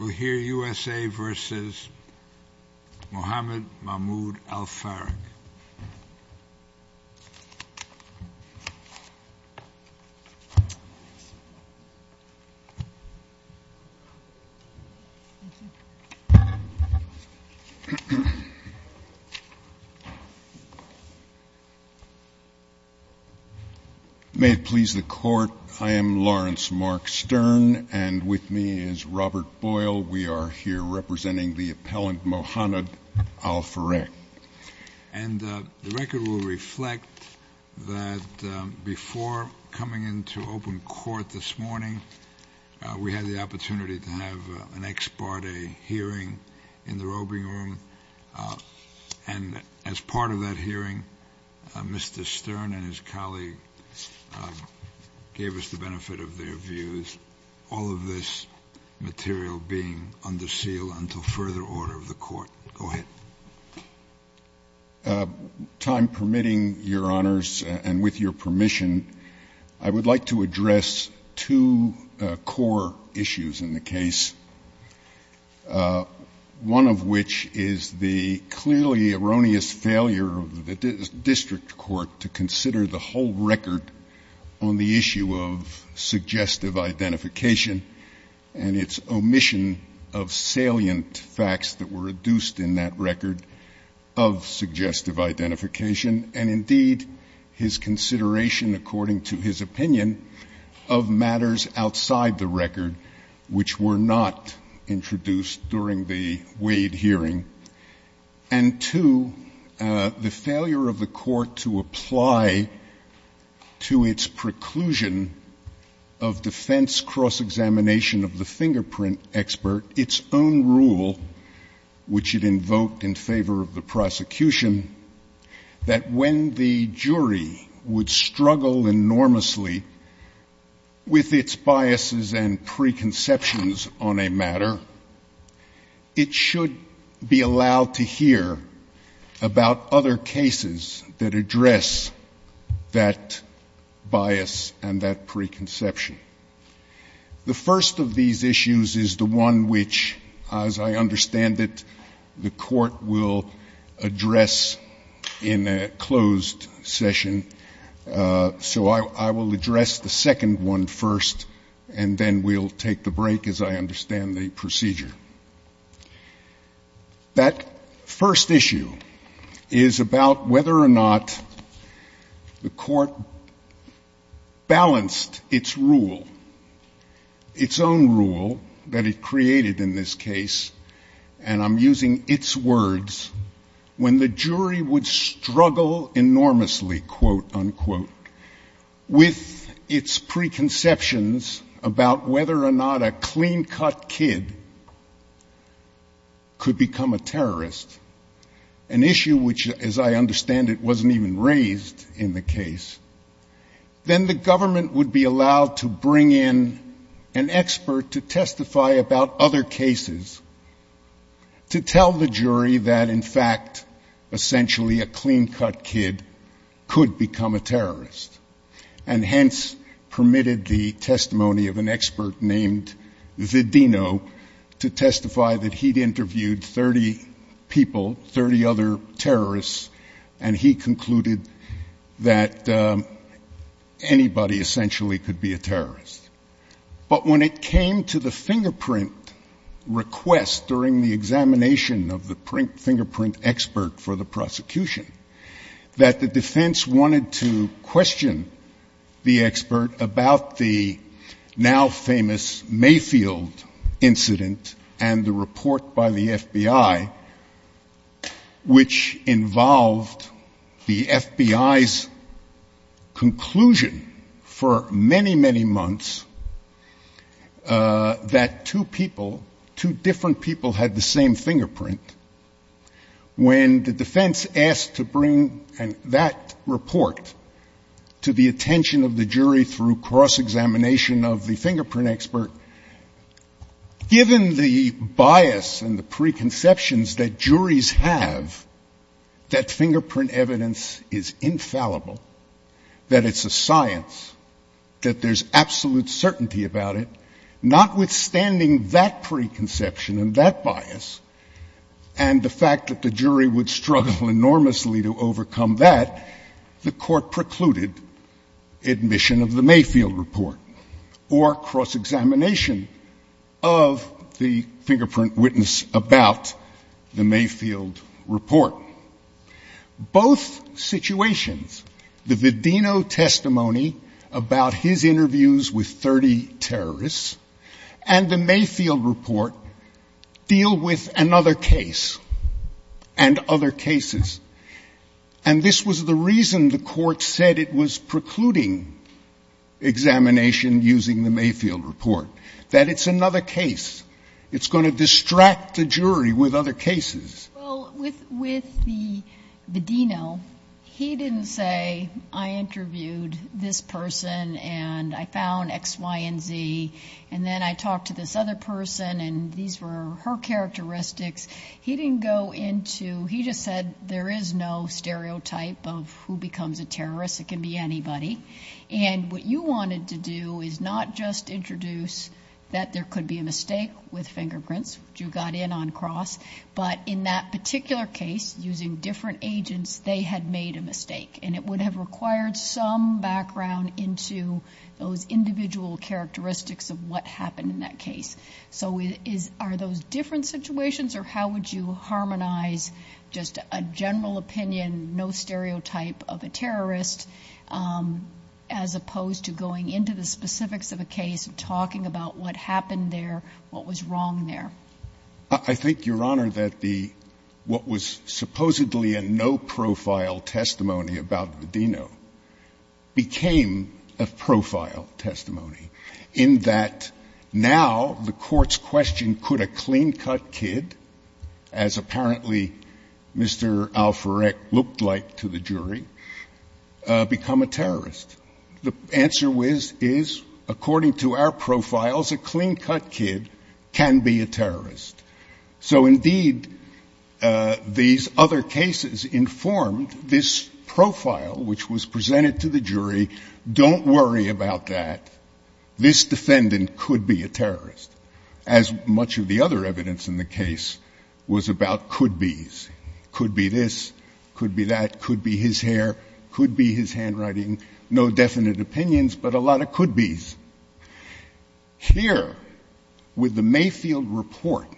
Al-Farrakh. May it please the Court, I am Lawrence Mark Stern, and with me is Robert Boyle. We are here representing the appellant Mohannad Al-Farrakh. And the record will reflect that before coming into open court this morning, we had the opportunity to have an ex parte hearing in the roving room. And as part of that hearing, Mr. Stern and his colleague gave us the benefit of their views, all of this material being under seal until further order of the Court. Go ahead. Time permitting, Your Honors, and with your permission, I would like to address two core issues in the case, one of which is the clearly erroneous failure of the district court to consider the whole record on the issue of suggestive identification and its omission of salient facts that were adduced in that record of suggestive identification, and indeed, his consideration, according to his opinion, of matters outside the record which were not introduced during the Wade hearing, and two, the failure of the Court to apply to its preclusion of defense cross-examination of the fingerprint expert its own rule, which it invoked in favor of the prosecution, that when the jury would struggle enormously with its biases and preconceptions on a matter, it should be allowed to hear about other cases that address that bias and that preconception. The first of these issues is the one which, as I understand it, the Court will address in a closed session, so I will address the second one first, and then we'll take the break as I go. That first issue is about whether or not the Court balanced its rule, its own rule that it created in this case, and I'm using its words, when the jury would struggle enormously, quote, unquote, with its preconceptions about whether or not a clean-cut kid could become a terrorist, an issue which, as I understand it, wasn't even raised in the case, then the government would be allowed to bring in an expert to testify about other cases to tell the jury that, in fact, essentially a clean-cut kid could become a terrorist, and hence permitted the prosecution to bring in 30 people, 30 other terrorists, and he concluded that anybody essentially could be a terrorist. But when it came to the fingerprint request during the examination of the fingerprint expert for the prosecution, that the defense wanted to question the expert about the now-famous Mayfield incident and the report by the FBI, which involved the FBI's conclusion for many, many months that two people, two different people had the same fingerprint, when the defense asked to bring that report to the court, given the bias and the preconceptions that juries have that fingerprint evidence is infallible, that it's a science, that there's absolute certainty about it, notwithstanding that preconception and that bias and the fact that the jury would struggle enormously to overcome that, the court precluded admission of the Mayfield report or cross-examination of the fingerprint witness about the Mayfield report. Both situations, the Vidino testimony about his interviews with 30 terrorists and the Mayfield report, deal with another case and other cases, and this was the reason the court said it was precluding examination using the Mayfield report, that it's another case. It's going to distract the jury with other cases. Well, with the Vidino, he didn't say, I interviewed this person and I found X, Y, and Z, and then I talked to this other person and these were her characteristics. He didn't go into, he just said, there is no stereotype of who this person is, and what you wanted to do is not just introduce that there could be a mistake with fingerprints, which you got in on cross, but in that particular case, using different agents, they had made a mistake, and it would have required some background into those individual characteristics of what happened in that case. So are those different situations, or how would you harmonize just a general opinion, no stereotype of a terrorist, as opposed to going into the specifics of a case and talking about what happened there, what was wrong there? I think, Your Honor, that the, what was supposedly a no-profile testimony about Vidino became a profile testimony, in that now the court's question, could a clean-cut kid, as apparently Mr. Alferec looked like to the jury, become a terrorist? The answer is, according to our profiles, a clean-cut kid can be a terrorist. So indeed, these other cases informed this profile, which was presented to the jury, don't worry about that. This defendant could be a terrorist, as much of the other evidence in the case was about could-bes. Could be this, could be that, could be his hair, could be his handwriting. No definite opinions, but a lot of could-bes. Here, with the Mayfield report,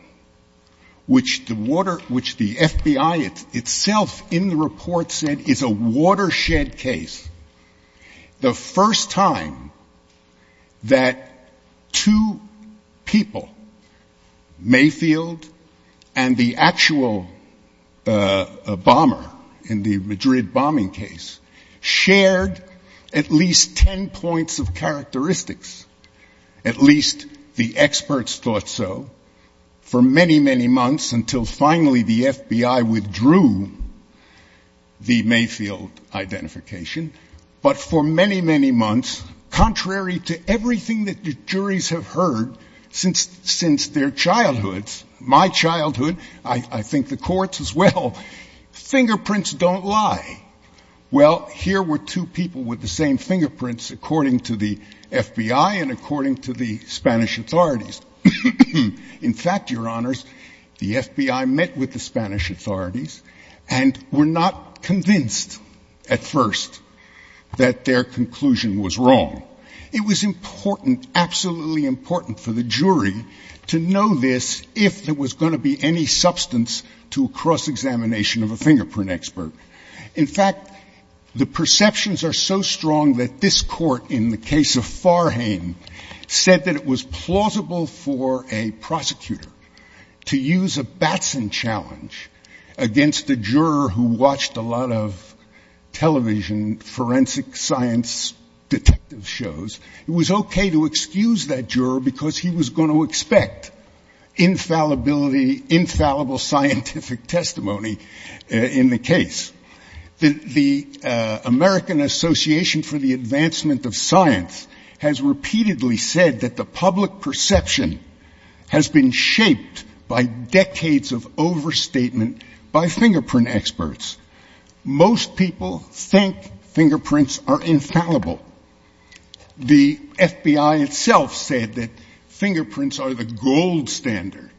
which the water, which the FBI itself in the report said is a watershed case, the first time that two people, Mayfield and the actual bomber in the Madrid bombing case, shared at least ten points of characteristics, at least the experts thought so, for many, many months, until finally the FBI withdrew the Mayfield identification. But for many, many months, contrary to everything that the juries have heard since their childhoods, my childhood, I think the court's as well, fingerprints don't lie. Well, here were two people with the same fingerprints, according to the FBI and according to the Spanish authorities. In fact, Your Honors, the FBI met with the Spanish authorities and were not convinced at first that their conclusion was wrong. It was important, absolutely important for the jury to know this if there was going to be any substance to a cross-examination of a fingerprint expert. In fact, the perceptions are so strong that this court in the case of Farhane said that it was plausible for a prosecutor to use a Batson challenge against a juror who watched a lot of television, forensic science detective shows, it was okay to excuse that juror because he was going to expect infallibility, infallible scientific testimony in the case. The American Association for the Advancement of Science has repeatedly said that the public perception has been shaped by decades of overstatement by fingerprint experts. Most people think fingerprints are infallible. The FBI itself said that fingerprints are the gold standard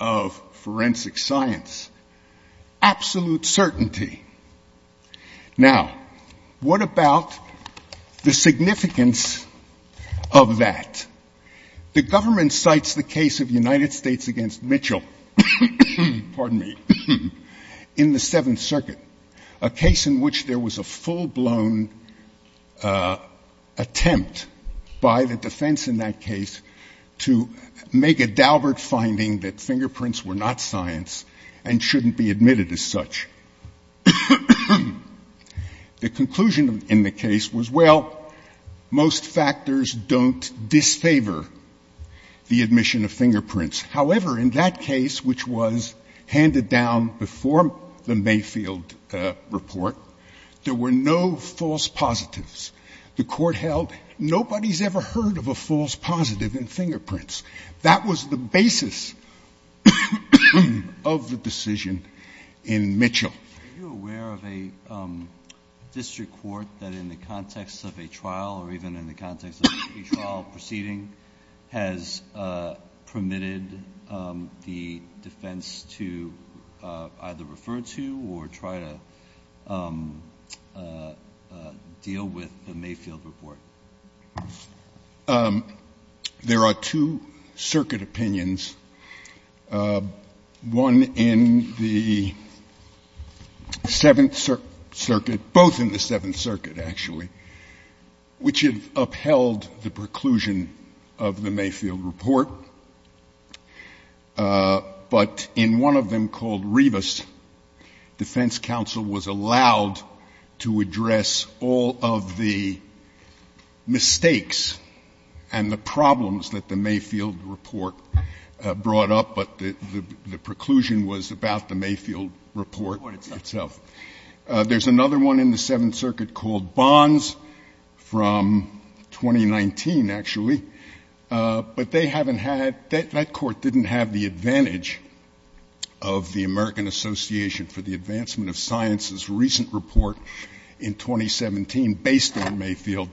of forensic science. Absolute certainty. Now, what about the significance of that? The government cites the case of the United States against Mitchell, pardon me, in the Seventh Circuit, a case in which there was a full-blown attempt by the defense in that case to make a judgment that fingerprints shouldn't be admitted as such. The conclusion in the case was, well, most factors don't disfavor the admission of fingerprints. However, in that case, which was handed down before the Mayfield report, there were no false positives. The court held nobody's ever heard of a false positive in fingerprints. And that was the conclusion in Mitchell. Are you aware of a district court that in the context of a trial or even in the context of a trial proceeding has permitted the defense to either refer to or try to deal with the Mayfield report? There are two circuit opinions, one in the Seventh Circuit, both in the Seventh Circuit, actually, which have upheld the preclusion of the Mayfield report. But in one of them called Rivas, defense counsel was allowed to address all of the mistakes and the problems that the Mayfield report brought up, but the preclusion was about the Mayfield report itself. There's another one in the Seventh Circuit called Bonds from 2019, actually. But they haven't had — that court didn't have the advantage of the American Association for the Advancement of Science's recent report in 2017 based on Mayfield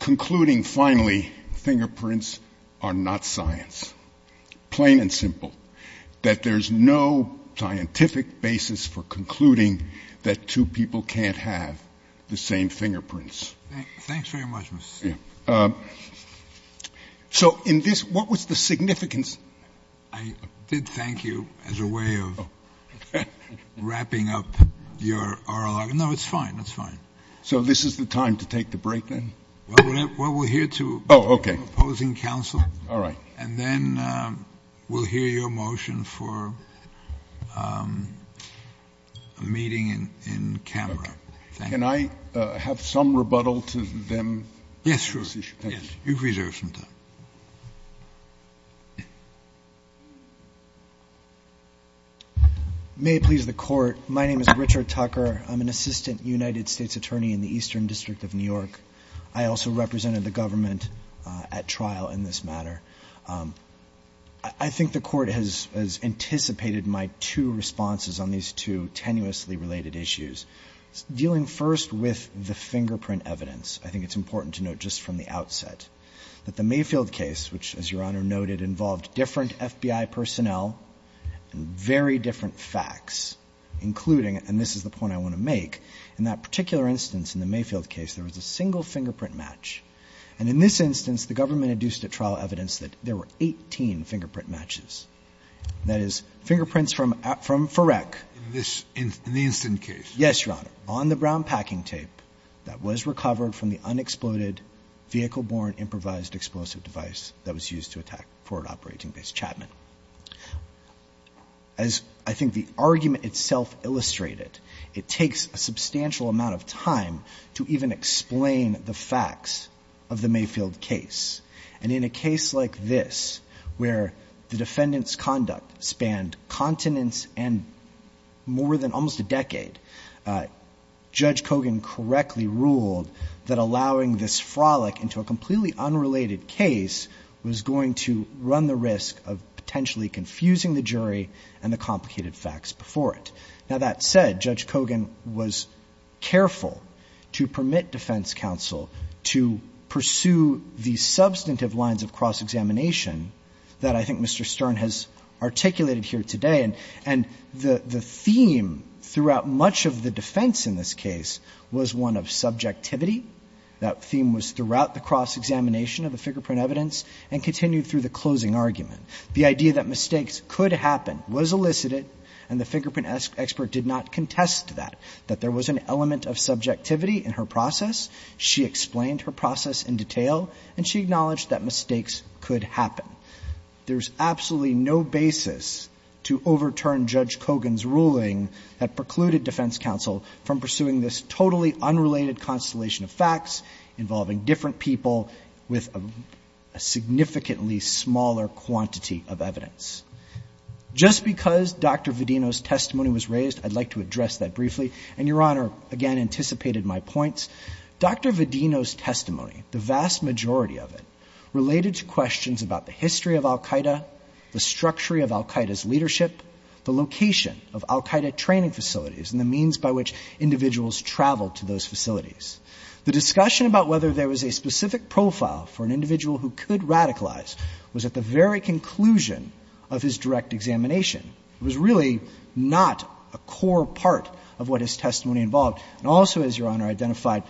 concluding, finally, fingerprints are not science, plain and simple, that there's no scientific basis for concluding that two people can't have the same fingerprints. Thanks very much, Mr. — So in this — what was the significance — I did thank you as a way of wrapping up your oral argument. No, it's fine, it's fine. So this is the time to take the break, then? Well, we'll hear to opposing counsel, and then we'll hear your motion for a meeting in camera. Can I have some rebuttal to them? Yes, sure. You've reserved some time. May it please the Court, my name is Richard Tucker. I'm an assistant United States attorney in the Eastern District of New York. I also represented the government at trial in this matter. I think the Court has anticipated my two responses on these two tenuously related issues, dealing first with the fingerprint evidence. I think it's important to note just from the outset that the Mayfield case, which, as Your Honor noted, involved different FBI personnel and very different facts, including — and this is the point I want to make — in that particular instance in the Mayfield case, there was a single fingerprint match. And in this instance, the government induced at trial evidence that there were 18 fingerprint matches. That is, fingerprints from FIREC. In the incident case? Yes, Your Honor, on the brown packing tape that was recovered from the unexploded vehicle-borne improvised explosive device that was used to attack Forward Operating Base Chapman. As I think the argument itself illustrated, it takes a substantial amount of time to even explain the facts of the Mayfield case. And in a case like this, where the defendant's conduct spanned continents and more than almost a decade, Judge Kogan correctly ruled that allowing this fingerprint frolic into a completely unrelated case was going to run the risk of potentially confusing the jury and the complicated facts before it. Now, that said, Judge Kogan was careful to permit defense counsel to pursue the substantive lines of cross-examination that I think Mr. Stern has articulated here today. And the theme throughout much of the defense in this case was one of subjectivity. That theme was throughout the cross-examination of the fingerprint evidence and continued through the closing argument. The idea that mistakes could happen was elicited, and the fingerprint expert did not contest that, that there was an element of subjectivity in her process. She explained her process in detail, and she acknowledged that mistakes could happen. There's absolutely no basis to overturn Judge Kogan's ruling that precluded defense counsel from pursuing this totally unrelated constellation of facts involving different people with a significantly smaller quantity of evidence. Just because Dr. Vedino's testimony was raised, I'd like to address that briefly. And Your Honor, again, anticipated my points. Dr. Vedino's testimony, the vast majority of it, related to questions about the history of the facilities by which individuals traveled to those facilities. The discussion about whether there was a specific profile for an individual who could radicalize was at the very conclusion of his direct examination. It was really not a core part of what his testimony involved. And also, as Your Honor identified,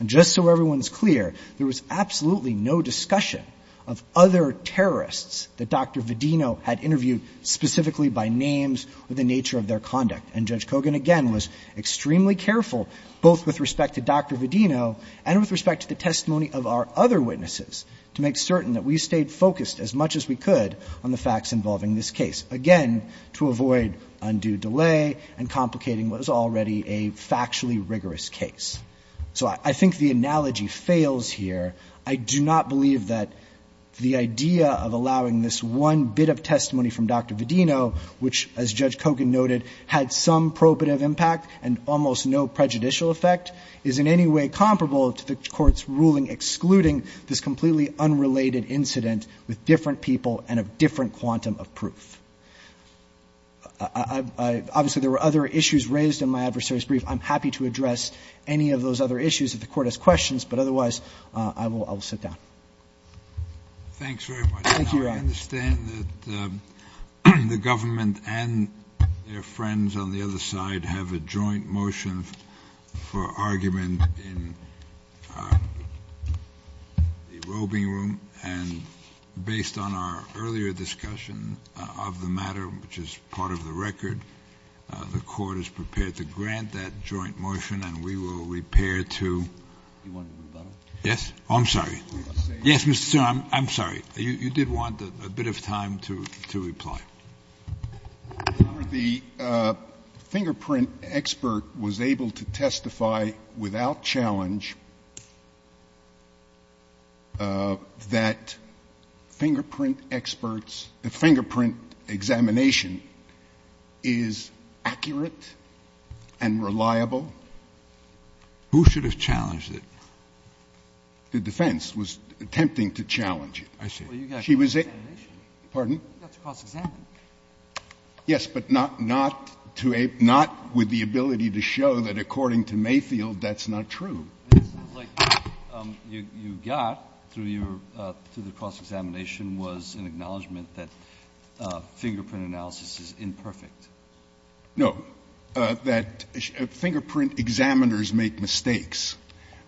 and just so everyone's clear, there was absolutely no discussion of other terrorists that Dr. Vedino had interviewed specifically by names or the nature of their conduct. And Judge Kogan, again, was extremely careful, both with respect to Dr. Vedino and with respect to the testimony of our other witnesses, to make certain that we stayed focused as much as we could on the facts involving this case, again, to avoid undue delay and complicating what was already a factually rigorous case. So I think the analogy fails here. I do not believe that the idea of allowing this one bit of testimony from Dr. Vedino which, as Judge Kogan noted, had some probative impact and almost no prejudicial effect, is in any way comparable to the Court's ruling excluding this completely unrelated incident with different people and a different quantum of proof. Obviously, there were other issues raised in my adversary's brief. I'm happy to address any of those other issues if the Court has questions. But otherwise, I will sit down. Thanks very much. Thank you, Your Honor. I understand that the government and their friends on the other side have a joint motion for argument in the roving room. And based on our earlier discussion of the matter, which is part of the record, the Court is prepared to grant that joint motion, and we will repair to You want a rebuttal? Yes. I'm sorry. Yes, Mr. Sotomayor. I'm sorry. You did want a bit of time to reply. Your Honor, the fingerprint expert was able to testify without challenge that fingerprint experts, the fingerprint examination is accurate and reliable. Who should have challenged it? The defense was attempting to challenge it. I see. Well, you got to cross-examine. Pardon? You got to cross-examine. Yes, but not with the ability to show that, according to Mayfield, that's not true. It seems like what you got through the cross-examination was an acknowledgment that fingerprint analysis is imperfect. No, that fingerprint examiners make mistakes.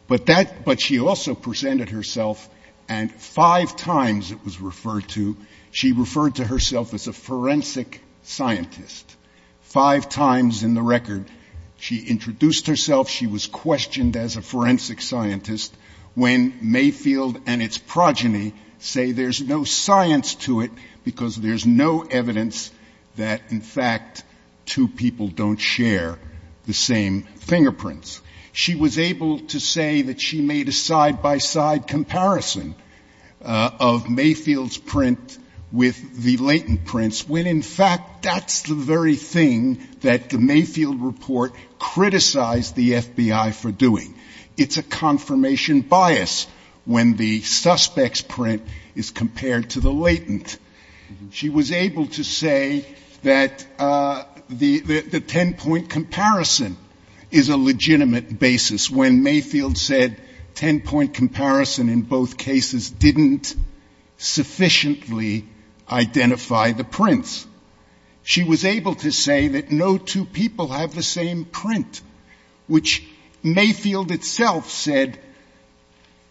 But she also presented herself, and five times it was referred to, she referred to herself as a forensic scientist. Five times in the record she introduced herself, she was questioned as a forensic scientist, when Mayfield and its progeny say there's no science to it because there's no evidence that, in fact, two people don't share the same fingerprints. She was able to say that she made a side-by-side comparison of Mayfield's print with the latent prints when, in fact, that's the very thing that the Mayfield report criticized the FBI for doing. It's a confirmation bias when the suspect's print is compared to the latent. She was able to say that the ten-point comparison is a legitimate basis when Mayfield said ten-point comparison in both cases didn't sufficiently identify the prints. She was able to say that no two people have the same print, which Mayfield itself said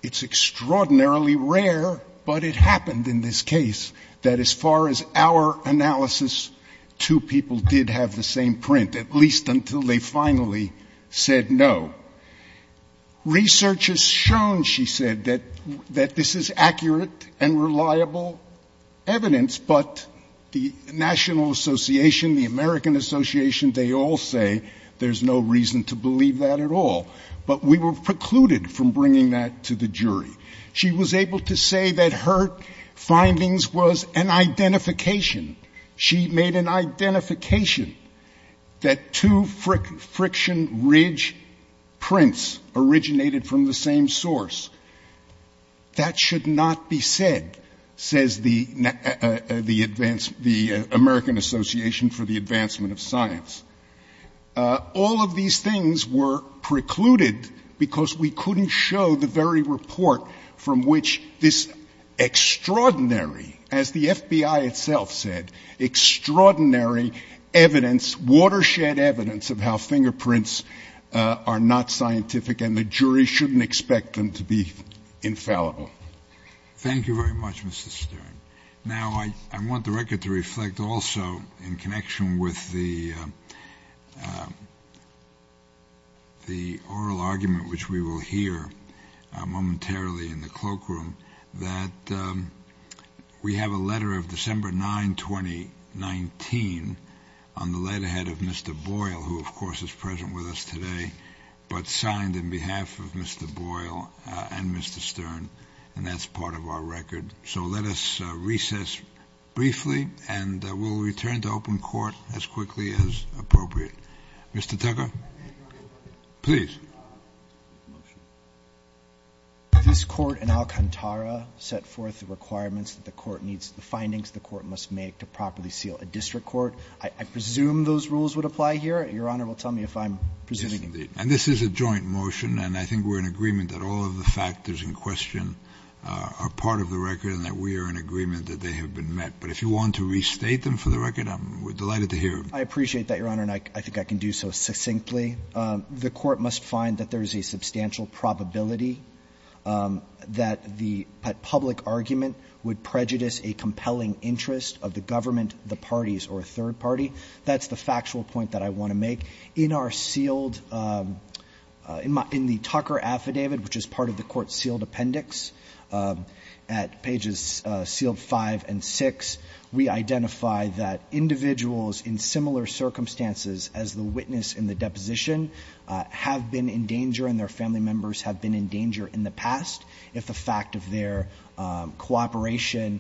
it's extraordinarily rare, but it happened in this case, that as far as our analysis, two people did have the same print, at least until they finally said no. Research has shown, she said, that this is accurate and reliable evidence, but the National Association, the American Association, they all say there's no reason to believe that at all, but we were precluded from bringing that to the jury. She was able to say that her findings was an identification. She made an identification that two friction ridge prints originated from the same source. That should not be said, says the American Association for the Advancement of Science. All of these things were precluded because we couldn't show the very report from which this extraordinary, as the FBI itself said, extraordinary evidence, watershed evidence of how fingerprints are not scientific and the jury shouldn't be infallible. Thank you very much, Mr. Steering. Now, I want the record to reflect also in connection with the oral argument, which we will hear momentarily in the cloakroom, that we have a letter of December 9, 2019, on the letterhead of Mr. Boyle, who, of course, is present with us today, but signed in by Mr. Boyle and Mr. Stern, and that's part of our record. So let us recess briefly, and we'll return to open court as quickly as appropriate. Mr. Tucker, please. This court in Alcantara set forth the requirements that the court needs, the findings the court must make to properly seal a district court. I presume those rules would apply here. Your Honor will tell me if I'm presuming them. Yes, indeed. And this is a joint motion, and I think we're in agreement that all of the factors in question are part of the record and that we are in agreement that they have been met. But if you want to restate them for the record, we're delighted to hear them. I appreciate that, Your Honor, and I think I can do so succinctly. The court must find that there is a substantial probability that the public argument would prejudice a compelling interest of the government, the parties, or a third party. That's the factual point that I want to make. In our sealed – in the Tucker affidavit, which is part of the court's sealed appendix at pages sealed 5 and 6, we identify that individuals in similar circumstances as the witness in the deposition have been in danger and their family members have been in danger in the past if the fact of their cooperation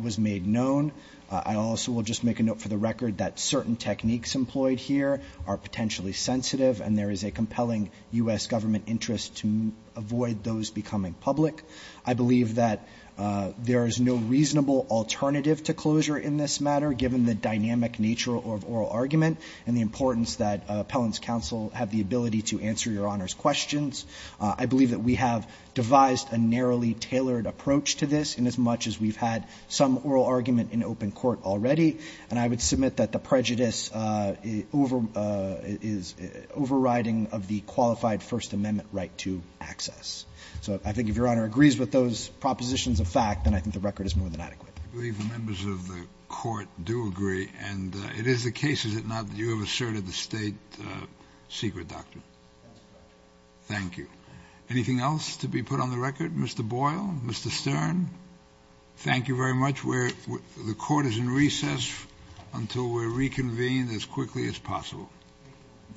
was made known. I also will just make a note for the record that certain techniques employed here are potentially sensitive, and there is a compelling U.S. government interest to avoid those becoming public. I believe that there is no reasonable alternative to closure in this matter, given the dynamic nature of oral argument and the importance that appellants' counsel have the ability to answer Your Honor's questions. I believe that we have devised a narrowly tailored approach to this inasmuch as we've had some oral argument in open court already, and I would submit that the prejudice is overriding of the qualified First Amendment right to access. So I think if Your Honor agrees with those propositions of fact, then I think the record is more than adequate. I believe the members of the court do agree, and it is the case, is it not, that you have asserted the state secret doctrine. Thank you. Anything else to be put on the record? Mr. Boyle? Mr. Stern? Thank you very much. The court is in recess until we're reconvened as quickly as possible. Thank you.